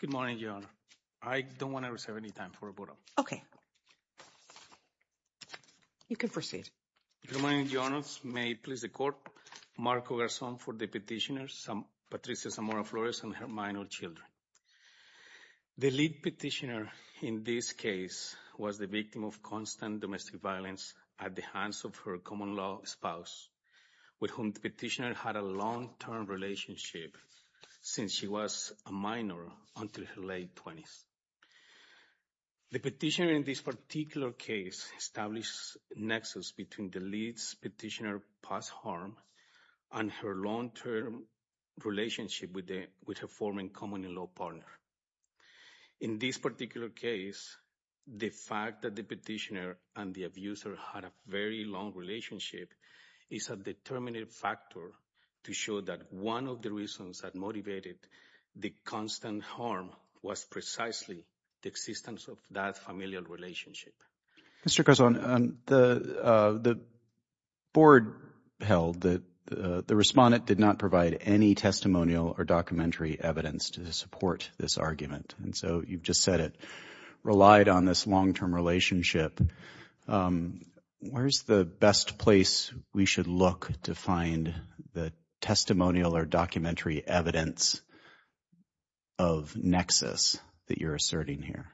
Good morning, Your Honor. I don't want to reserve any time for a vote. Okay. You can proceed. Good morning, Your Honor. May it please the Court, Marco Garzón for the petitioner, Patricia Zamora Flores and her minor children. The lead petitioner in this case was the victim of constant domestic violence at the hands of her common-law spouse with whom the petitioner had a long-term relationship since she was a minor until her late 20s. The petitioner in this particular case established a nexus between the lead petitioner's past harm and her long-term relationship with her former common-law partner. In this particular case, the fact that the petitioner and the abuser had a very long relationship is a determinant factor to show that one of the reasons that motivated the constant harm was precisely the existence of that familial relationship. Mr. Garzón, the board held that the respondent did not provide any testimonial or documentary evidence to support this argument. And so you've just said it relied on this long-term relationship. Where's the best place we should look to find the testimonial or documentary evidence of nexus that you're asserting here?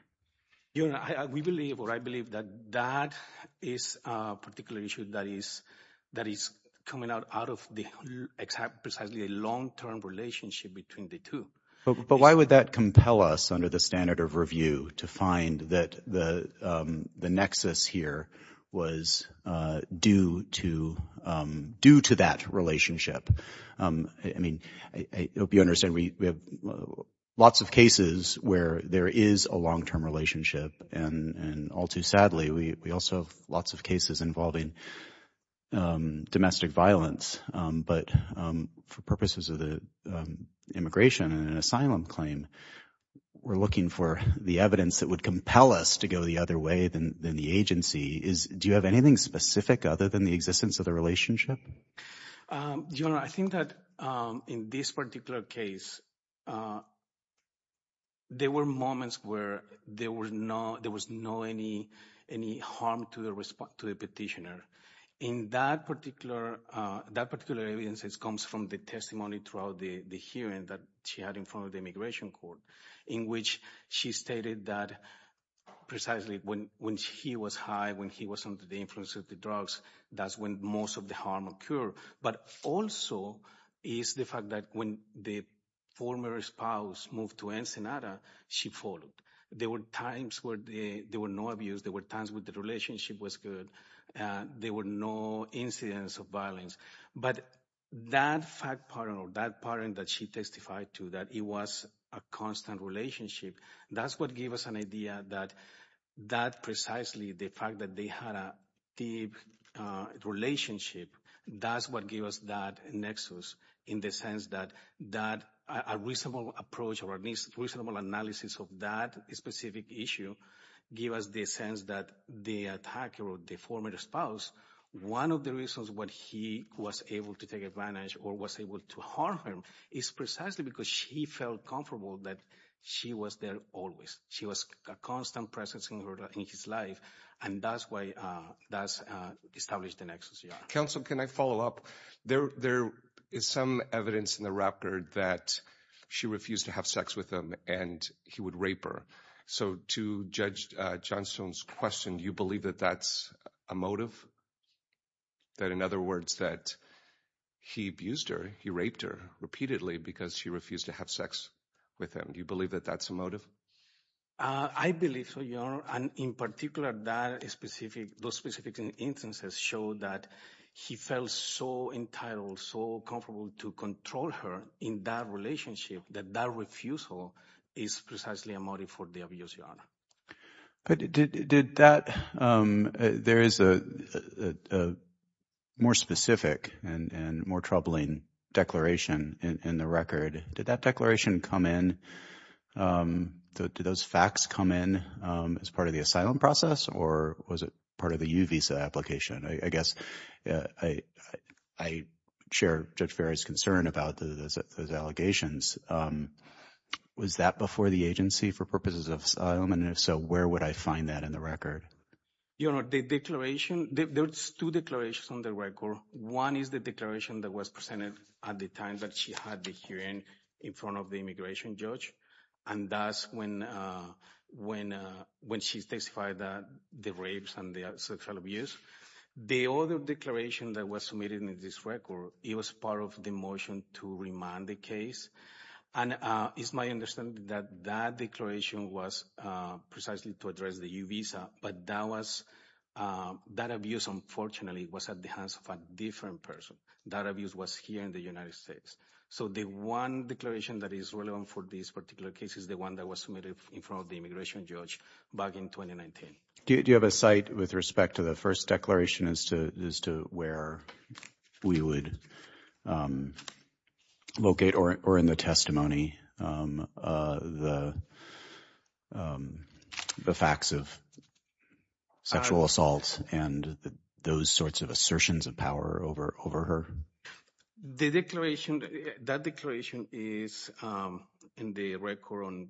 We believe or I believe that that is a particular issue that is coming out of precisely a long-term relationship between the two. But why would that compel us under the standard of review to find that the nexus here was due to that relationship? I mean, I hope you understand we have lots of cases where there is a long-term relationship. And all too sadly, we also have lots of cases involving domestic violence. But for purposes of the immigration and asylum claim, we're looking for the evidence that would compel us to go the other way than the agency. Do you have anything specific other than the existence of the relationship? Your Honor, I think that in this particular case, there were moments where there was no harm to the petitioner. And that particular evidence comes from the testimony throughout the hearing that she had in front of the immigration court, in which she stated that precisely when he was high, when he was under the influence of the drugs, that's when most of the harm occurred. But also is the fact that when the former spouse moved to Ensenada, she followed. There were times where there were no abuse. There were times when the relationship was good. There were no incidents of violence. But that fact pattern or that pattern that she testified to, that it was a constant relationship, that's what gave us an idea that precisely the fact that they had a deep relationship, that's what gave us that nexus in the sense that a reasonable approach or a reasonable analysis of that specific issue gave us the sense that the attacker or the former spouse, one of the reasons why he was able to take advantage or was able to harm her is precisely because she felt comfortable that she was there always. She was a constant presence in his life, and that's why that's established the nexus. Counsel, can I follow up? There is some evidence in the record that she refused to have sex with him and he would rape her. So to Judge Johnstone's question, do you believe that that's a motive? That, in other words, that he abused her, he raped her repeatedly because she refused to have sex with him? Do you believe that that's a motive? I believe so, Your Honor. And in particular, those specific instances show that he felt so entitled, so comfortable to control her in that relationship that that refusal is precisely a motive for the abuse, Your Honor. But did that – there is a more specific and more troubling declaration in the record. Did that declaration come in – did those facts come in as part of the asylum process or was it part of the U visa application? I guess I share Judge Ferrer's concern about those allegations. Was that before the agency for purposes of asylum? And if so, where would I find that in the record? Your Honor, the declaration – there's two declarations on the record. One is the declaration that was presented at the time that she had the hearing in front of the immigration judge. And that's when she testified that the rapes and the sexual abuse. The other declaration that was submitted in this record, it was part of the motion to remand the case. And it's my understanding that that declaration was precisely to address the U visa. But that was – that abuse, unfortunately, was at the hands of a different person. That abuse was here in the United States. So the one declaration that is relevant for this particular case is the one that was submitted in front of the immigration judge back in 2019. Do you have a cite with respect to the first declaration as to where we would locate or in the testimony the facts of sexual assault and those sorts of assertions of power over her? The declaration – that declaration is in the record on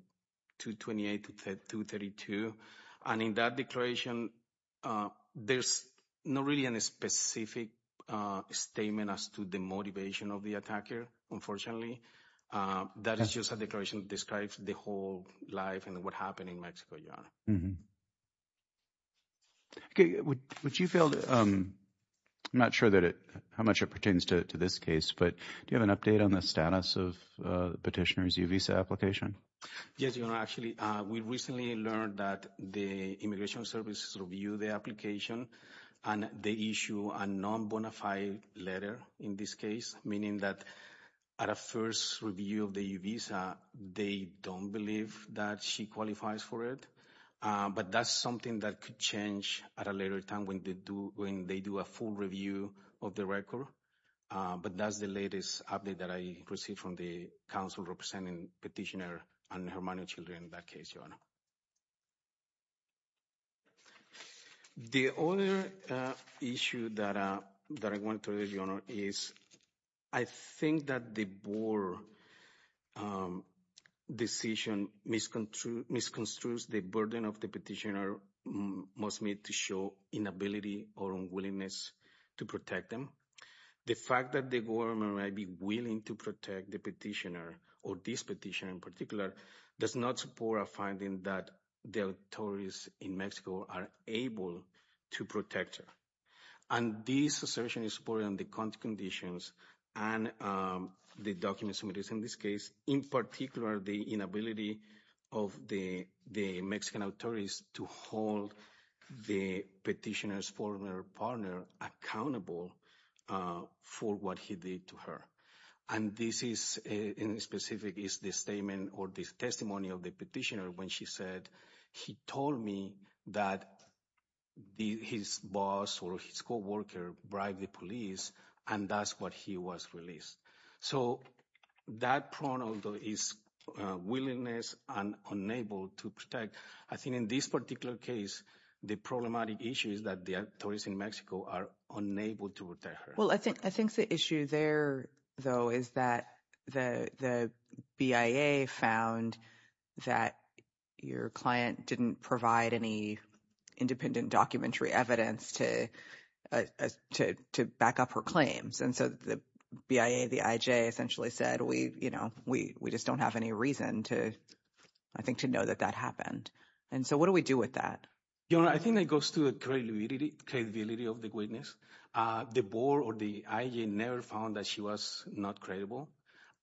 228 to 232. And in that declaration, there's not really a specific statement as to the motivation of the attacker, unfortunately. That is just a declaration that describes the whole life and what happened in Mexico, Your Honor. Would you feel – I'm not sure that it – how much it pertains to this case. But do you have an update on the status of the petitioner's U visa application? Yes, Your Honor. Actually, we recently learned that the immigration service reviewed the application. And they issue a non-bona fide letter in this case, meaning that at a first review of the U visa, they don't believe that she qualifies for it. But that's something that could change at a later time when they do a full review of the record. But that's the latest update that I received from the council representing petitioner and her money children in that case, Your Honor. The other issue that I want to raise, Your Honor, is I think that the board decision misconstrues the burden of the petitioner must meet to show inability or unwillingness to protect them. The fact that the government might be willing to protect the petitioner or this petitioner in particular does not support a finding that the authorities in Mexico are able to protect her. And this assertion is supported on the conditions and the documents submitted in this case, in particular the inability of the Mexican authorities to hold the petitioner's former partner accountable for what he did to her. And this is in specific is the statement or this testimony of the petitioner when she said, he told me that his boss or his co-worker bribed the police and that's what he was released. So that pronoun is willingness and unable to protect. I think in this particular case, the problematic issue is that the authorities in Mexico are unable to protect her. Well, I think I think the issue there, though, is that the BIA found that your client didn't provide any independent documentary evidence to to to back up her claims. And so the BIA, the IJ essentially said, we, you know, we we just don't have any reason to, I think, to know that that happened. And so what do we do with that? You know, I think that goes to the credibility of the witness. The board or the IJ never found that she was not credible.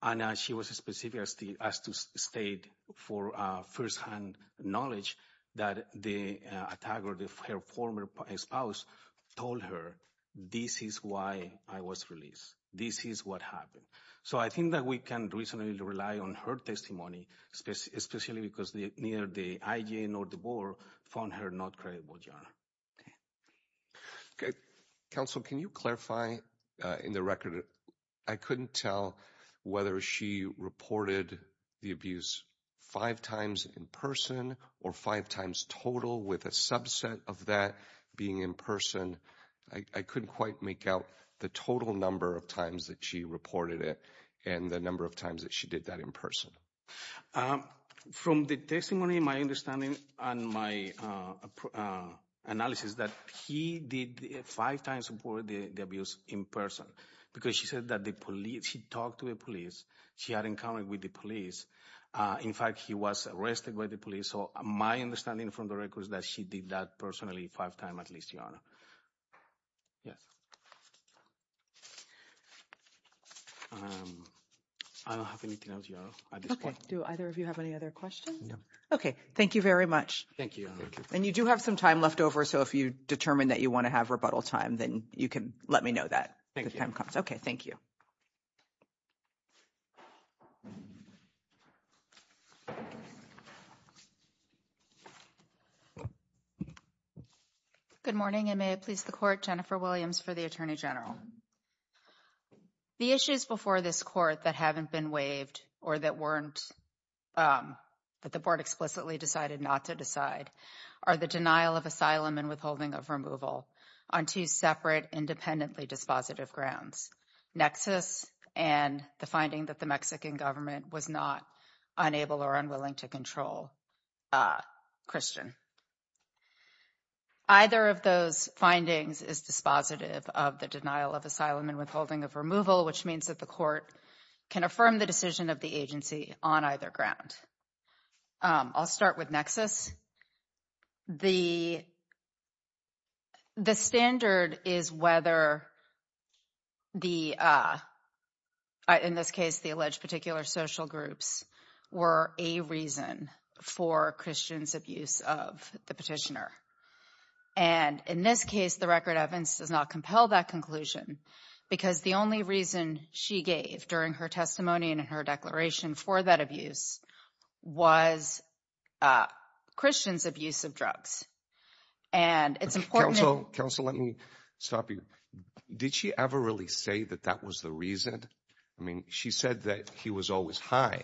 And she was specific as to state for first hand knowledge that the attacker, her former spouse, told her, this is why I was released. This is what happened. So I think that we can reasonably rely on her testimony, especially because neither the IJ nor the board found her not credible. Counsel, can you clarify in the record? I couldn't tell whether she reported the abuse five times in person or five times total with a subset of that being in person. I couldn't quite make out the total number of times that she reported it and the number of times that she did that in person. From the testimony, my understanding and my analysis is that he did five times before the abuse in person because she said that the police, she talked to the police. She had an encounter with the police. In fact, he was arrested by the police. So my understanding from the record is that she did that personally five times at least, Your Honor. Do either of you have any other questions? No. OK, thank you very much. Thank you. And you do have some time left over. So if you determine that you want to have rebuttal time, then you can let me know that. Thank you. OK, thank you. Good morning, and may it please the court. Jennifer Williams for the attorney general. The issues before this court that haven't been waived or that weren't that the board explicitly decided not to decide are the denial of asylum and withholding of removal on two separate independently dispositive grounds. Nexus and the finding that the Mexican government was not unable or unwilling to control Christian. Either of those findings is dispositive of the denial of asylum and withholding of removal, which means that the court can affirm the decision of the agency on either ground. I'll start with Nexus. The. The standard is whether. The. In this case, the alleged particular social groups were a reason for Christian's abuse of the petitioner. And in this case, the record evidence does not compel that conclusion because the only reason she gave during her testimony and in her declaration for that abuse was Christian's abuse of drugs. And it's important. Also, let me stop you. Did she ever really say that that was the reason? I mean, she said that he was always high.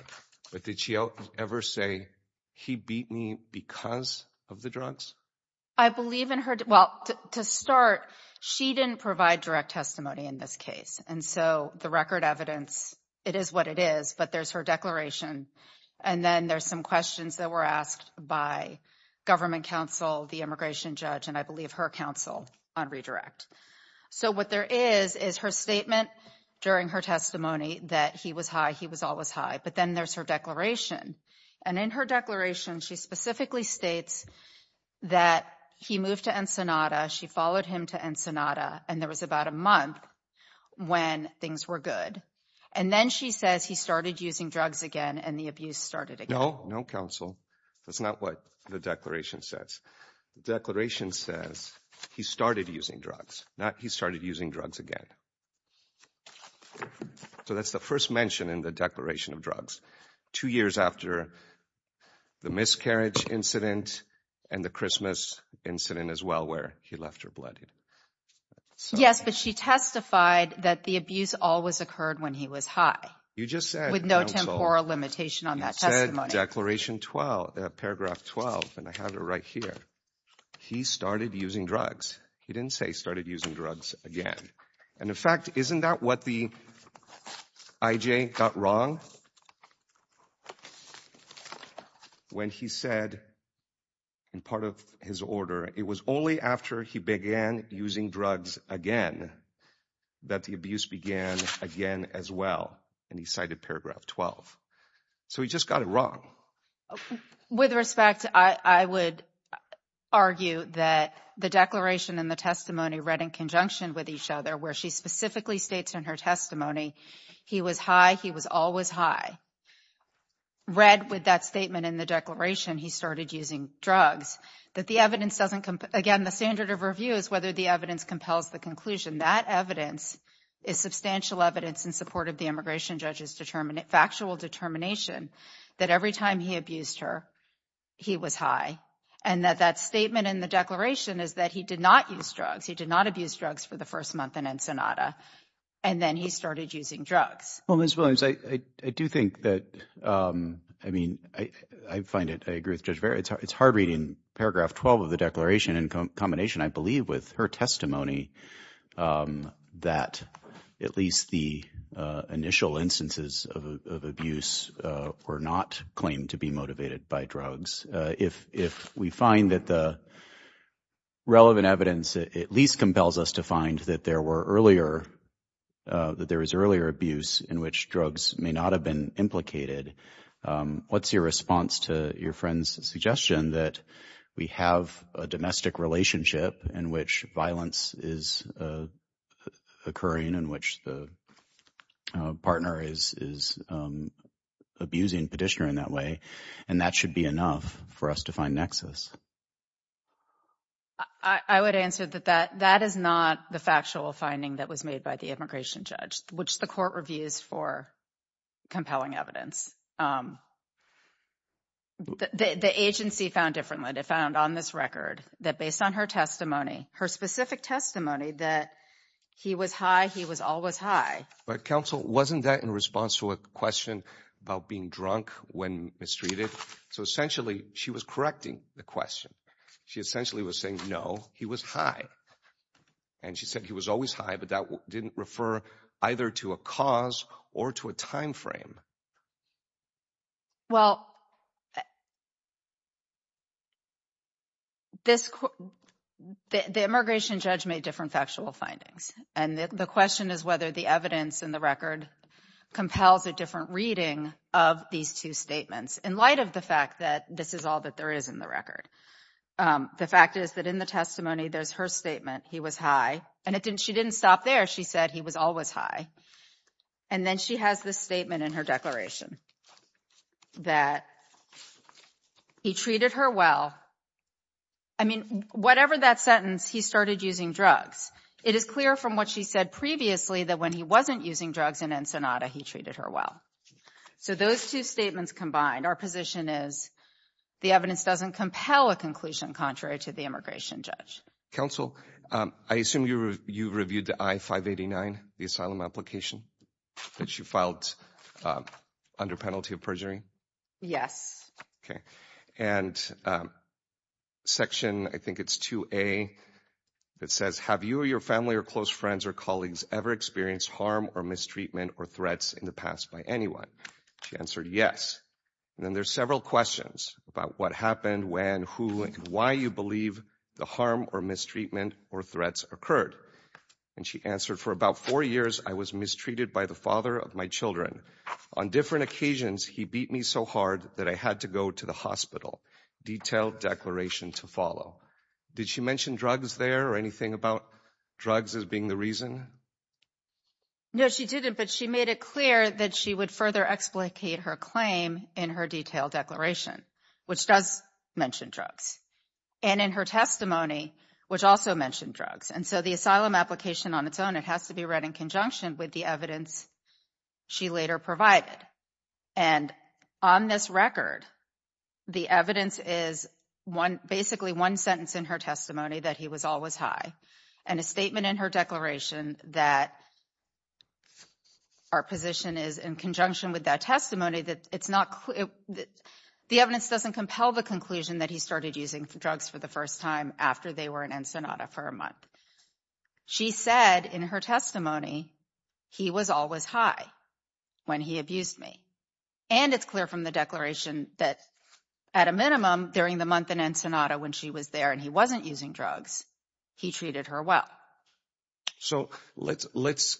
But did she ever say he beat me because of the drugs? I believe in her. Well, to start, she didn't provide direct testimony in this case. And so the record evidence, it is what it is. But there's her declaration. And then there's some questions that were asked by government counsel, the immigration judge, and I believe her counsel on redirect. So what there is is her statement during her testimony that he was high. He was always high. But then there's her declaration. And in her declaration, she specifically states that he moved to Ensenada. She followed him to Ensenada. And there was about a month when things were good. And then she says he started using drugs again and the abuse started. No, no counsel. That's not what the declaration says. Declaration says he started using drugs. Not he started using drugs again. So that's the first mention in the declaration of drugs. Two years after the miscarriage incident and the Christmas incident as well where he left her bloodied. Yes, but she testified that the abuse always occurred when he was high. You just said. With no temporal limitation on that testimony. You said declaration 12, paragraph 12, and I have it right here. He started using drugs. He didn't say he started using drugs again. And in fact, isn't that what the IJ got wrong? When he said. In part of his order, it was only after he began using drugs again. That the abuse began again as well. And he cited paragraph 12. So he just got it wrong. With respect, I would argue that the declaration and the testimony read in conjunction with each other where she specifically states in her testimony. He was high. He was always high. Read with that statement in the declaration. He started using drugs that the evidence doesn't come again. The standard of review is whether the evidence compels the conclusion. That evidence is substantial evidence in support of the immigration judges. Determinate factual determination that every time he abused her. He was high and that that statement in the declaration is that he did not use drugs. He did not abuse drugs for the first month in Ensenada. And then he started using drugs. Well, Miss Williams, I do think that. I mean, I find it. I agree with Judge. It's hard. It's hard reading paragraph 12 of the declaration in combination, I believe, with her testimony. That at least the initial instances of abuse were not claimed to be motivated by drugs. If if we find that the. Relevant evidence at least compels us to find that there were earlier that there was earlier abuse in which drugs may not have been implicated. What's your response to your friend's suggestion that we have a domestic relationship in which violence is occurring in which the partner is is abusing petitioner in that way? And that should be enough for us to find nexus. I would answer that that that is not the factual finding that was made by the immigration judge, which the court reviews for compelling evidence. The agency found differently to found on this record that based on her testimony, her specific testimony that he was high, he was always high. But counsel, wasn't that in response to a question about being drunk when mistreated? So essentially she was correcting the question. She essentially was saying, no, he was high. And she said he was always high, but that didn't refer either to a cause or to a time frame. Well. This the immigration judge made different factual findings, and the question is whether the evidence in the record compels a different reading of these two statements in light of the fact that this is all that there is in the record. The fact is that in the testimony, there's her statement. He was high and it didn't she didn't stop there. She said he was always high. And then she has this statement in her declaration that he treated her well. I mean, whatever that sentence, he started using drugs. It is clear from what she said previously that when he wasn't using drugs in Ensenada, he treated her well. So those two statements combined, our position is the evidence doesn't compel a conclusion contrary to the immigration judge. Counsel, I assume you reviewed the I-589, the asylum application that you filed under penalty of perjury? Yes. Okay. And section, I think it's 2A. It says, have you or your family or close friends or colleagues ever experienced harm or mistreatment or threats in the past by anyone? She answered yes. And then there's several questions about what happened, when, who and why you believe the harm or mistreatment or threats occurred. And she answered for about four years. I was mistreated by the father of my children on different occasions. He beat me so hard that I had to go to the hospital. Detailed declaration to follow. Did she mention drugs there or anything about drugs as being the reason? No, she didn't. But she made it clear that she would further explicate her claim in her detailed declaration, which does mention drugs. And in her testimony, which also mentioned drugs. And so the asylum application on its own, it has to be read in conjunction with the evidence she later provided. And on this record, the evidence is one, basically one sentence in her testimony that he was always high. And a statement in her declaration that. Our position is in conjunction with that testimony that it's not that the evidence doesn't compel the conclusion that he started using drugs for the first time after they were in Ensenada for a month. She said in her testimony, he was always high when he abused me. And it's clear from the declaration that at a minimum during the month in Ensenada when she was there and he wasn't using drugs. He treated her well. So let's let's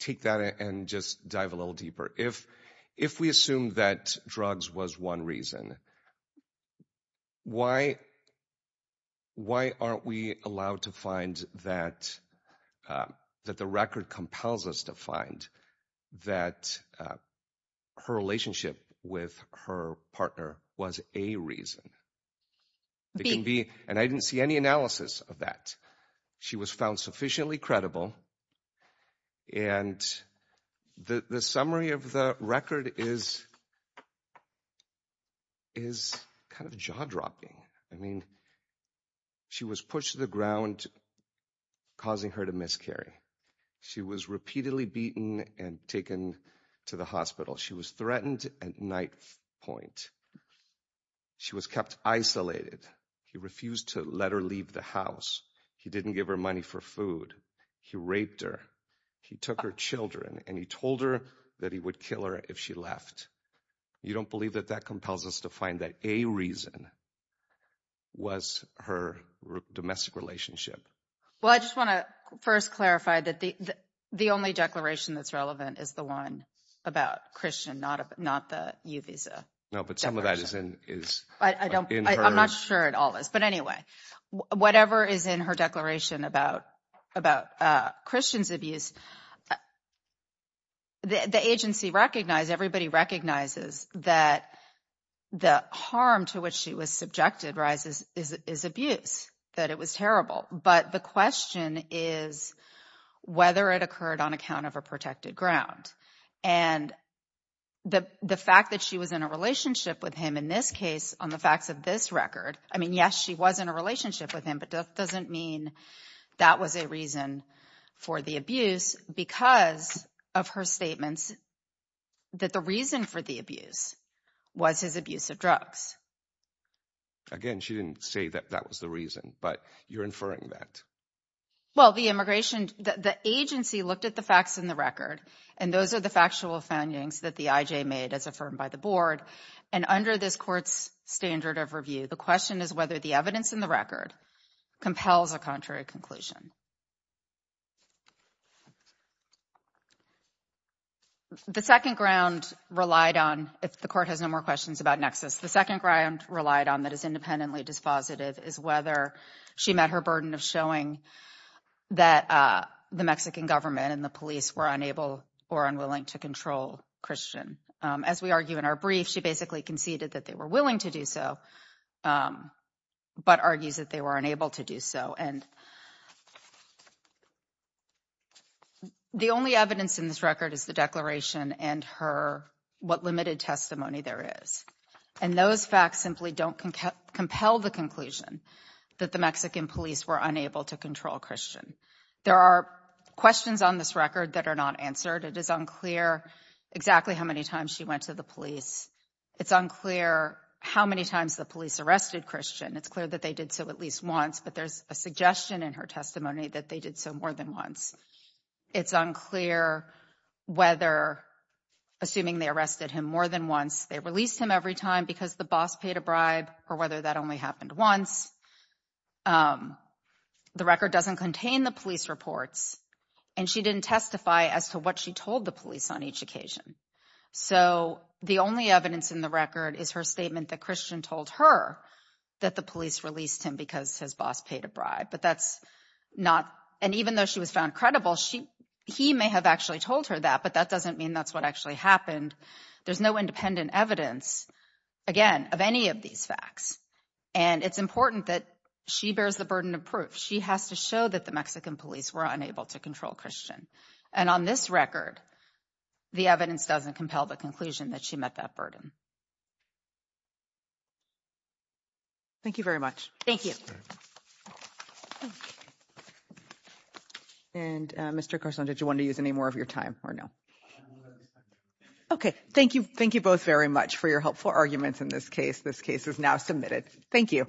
take that and just dive a little deeper. If if we assume that drugs was one reason. Why? Why aren't we allowed to find that that the record compels us to find that her relationship with her partner was a reason. They can be and I didn't see any analysis of that. She was found sufficiently credible. And the summary of the record is. Is kind of jaw dropping. I mean. She was pushed to the ground. Causing her to miscarry. She was repeatedly beaten and taken to the hospital. She was threatened at night point. She was kept isolated. He refused to let her leave the house. He didn't give her money for food. He raped her. He took her children and he told her that he would kill her if she left. You don't believe that that compels us to find that a reason. Was her domestic relationship. Well, I just want to first clarify that the the only declaration that's relevant is the one about Christian. Not not the you visa. No, but some of that is in is I don't I'm not sure it all is. But anyway, whatever is in her declaration about about Christian's abuse. The agency recognized everybody recognizes that the harm to which she was subjected rises is abuse that it was terrible. But the question is whether it occurred on account of her protected ground. And the fact that she was in a relationship with him in this case on the facts of this record. I mean, yes, she was in a relationship with him. But that doesn't mean that was a reason for the abuse because of her statements. That the reason for the abuse was his abuse of drugs. Again, she didn't say that that was the reason but you're inferring that. Well, the immigration, the agency looked at the facts in the record. And those are the factual findings that the IJ made as affirmed by the board. And under this court's standard of review, the question is whether the evidence in the record compels a contrary conclusion. The second ground relied on if the court has no more questions about nexus, the second ground relied on that is independently dispositive is whether she met her burden of showing that the Mexican government and the police were unable or unwilling to control Christian. As we argue in our brief, she basically conceded that they were willing to do so, but argues that they were unable to do so. And the only evidence in this record is the declaration and her what limited testimony there is. And those facts simply don't compel the conclusion that the Mexican police were unable to control Christian. There are questions on this record that are not answered. It is unclear exactly how many times she went to the police. It's unclear how many times the police arrested Christian. It's clear that they did so at least once, but there's a suggestion in her testimony that they did so more than once. It's unclear whether, assuming they arrested him more than once, they released him every time because the boss paid a bribe or whether that only happened once. The record doesn't contain the police reports, and she didn't testify as to what she told the police on each occasion. So the only evidence in the record is her statement that Christian told her that the police released him because his boss paid a bribe. And even though she was found credible, he may have actually told her that, but that doesn't mean that's what actually happened. There's no independent evidence, again, of any of these facts. And it's important that she bears the burden of proof. She has to show that the Mexican police were unable to control Christian. And on this record, the evidence doesn't compel the conclusion that she met that burden. Thank you very much. Thank you. And Mr. Carson, did you want to use any more of your time or no? OK, thank you. Thank you both very much for your helpful arguments in this case. This case is now submitted. Thank you.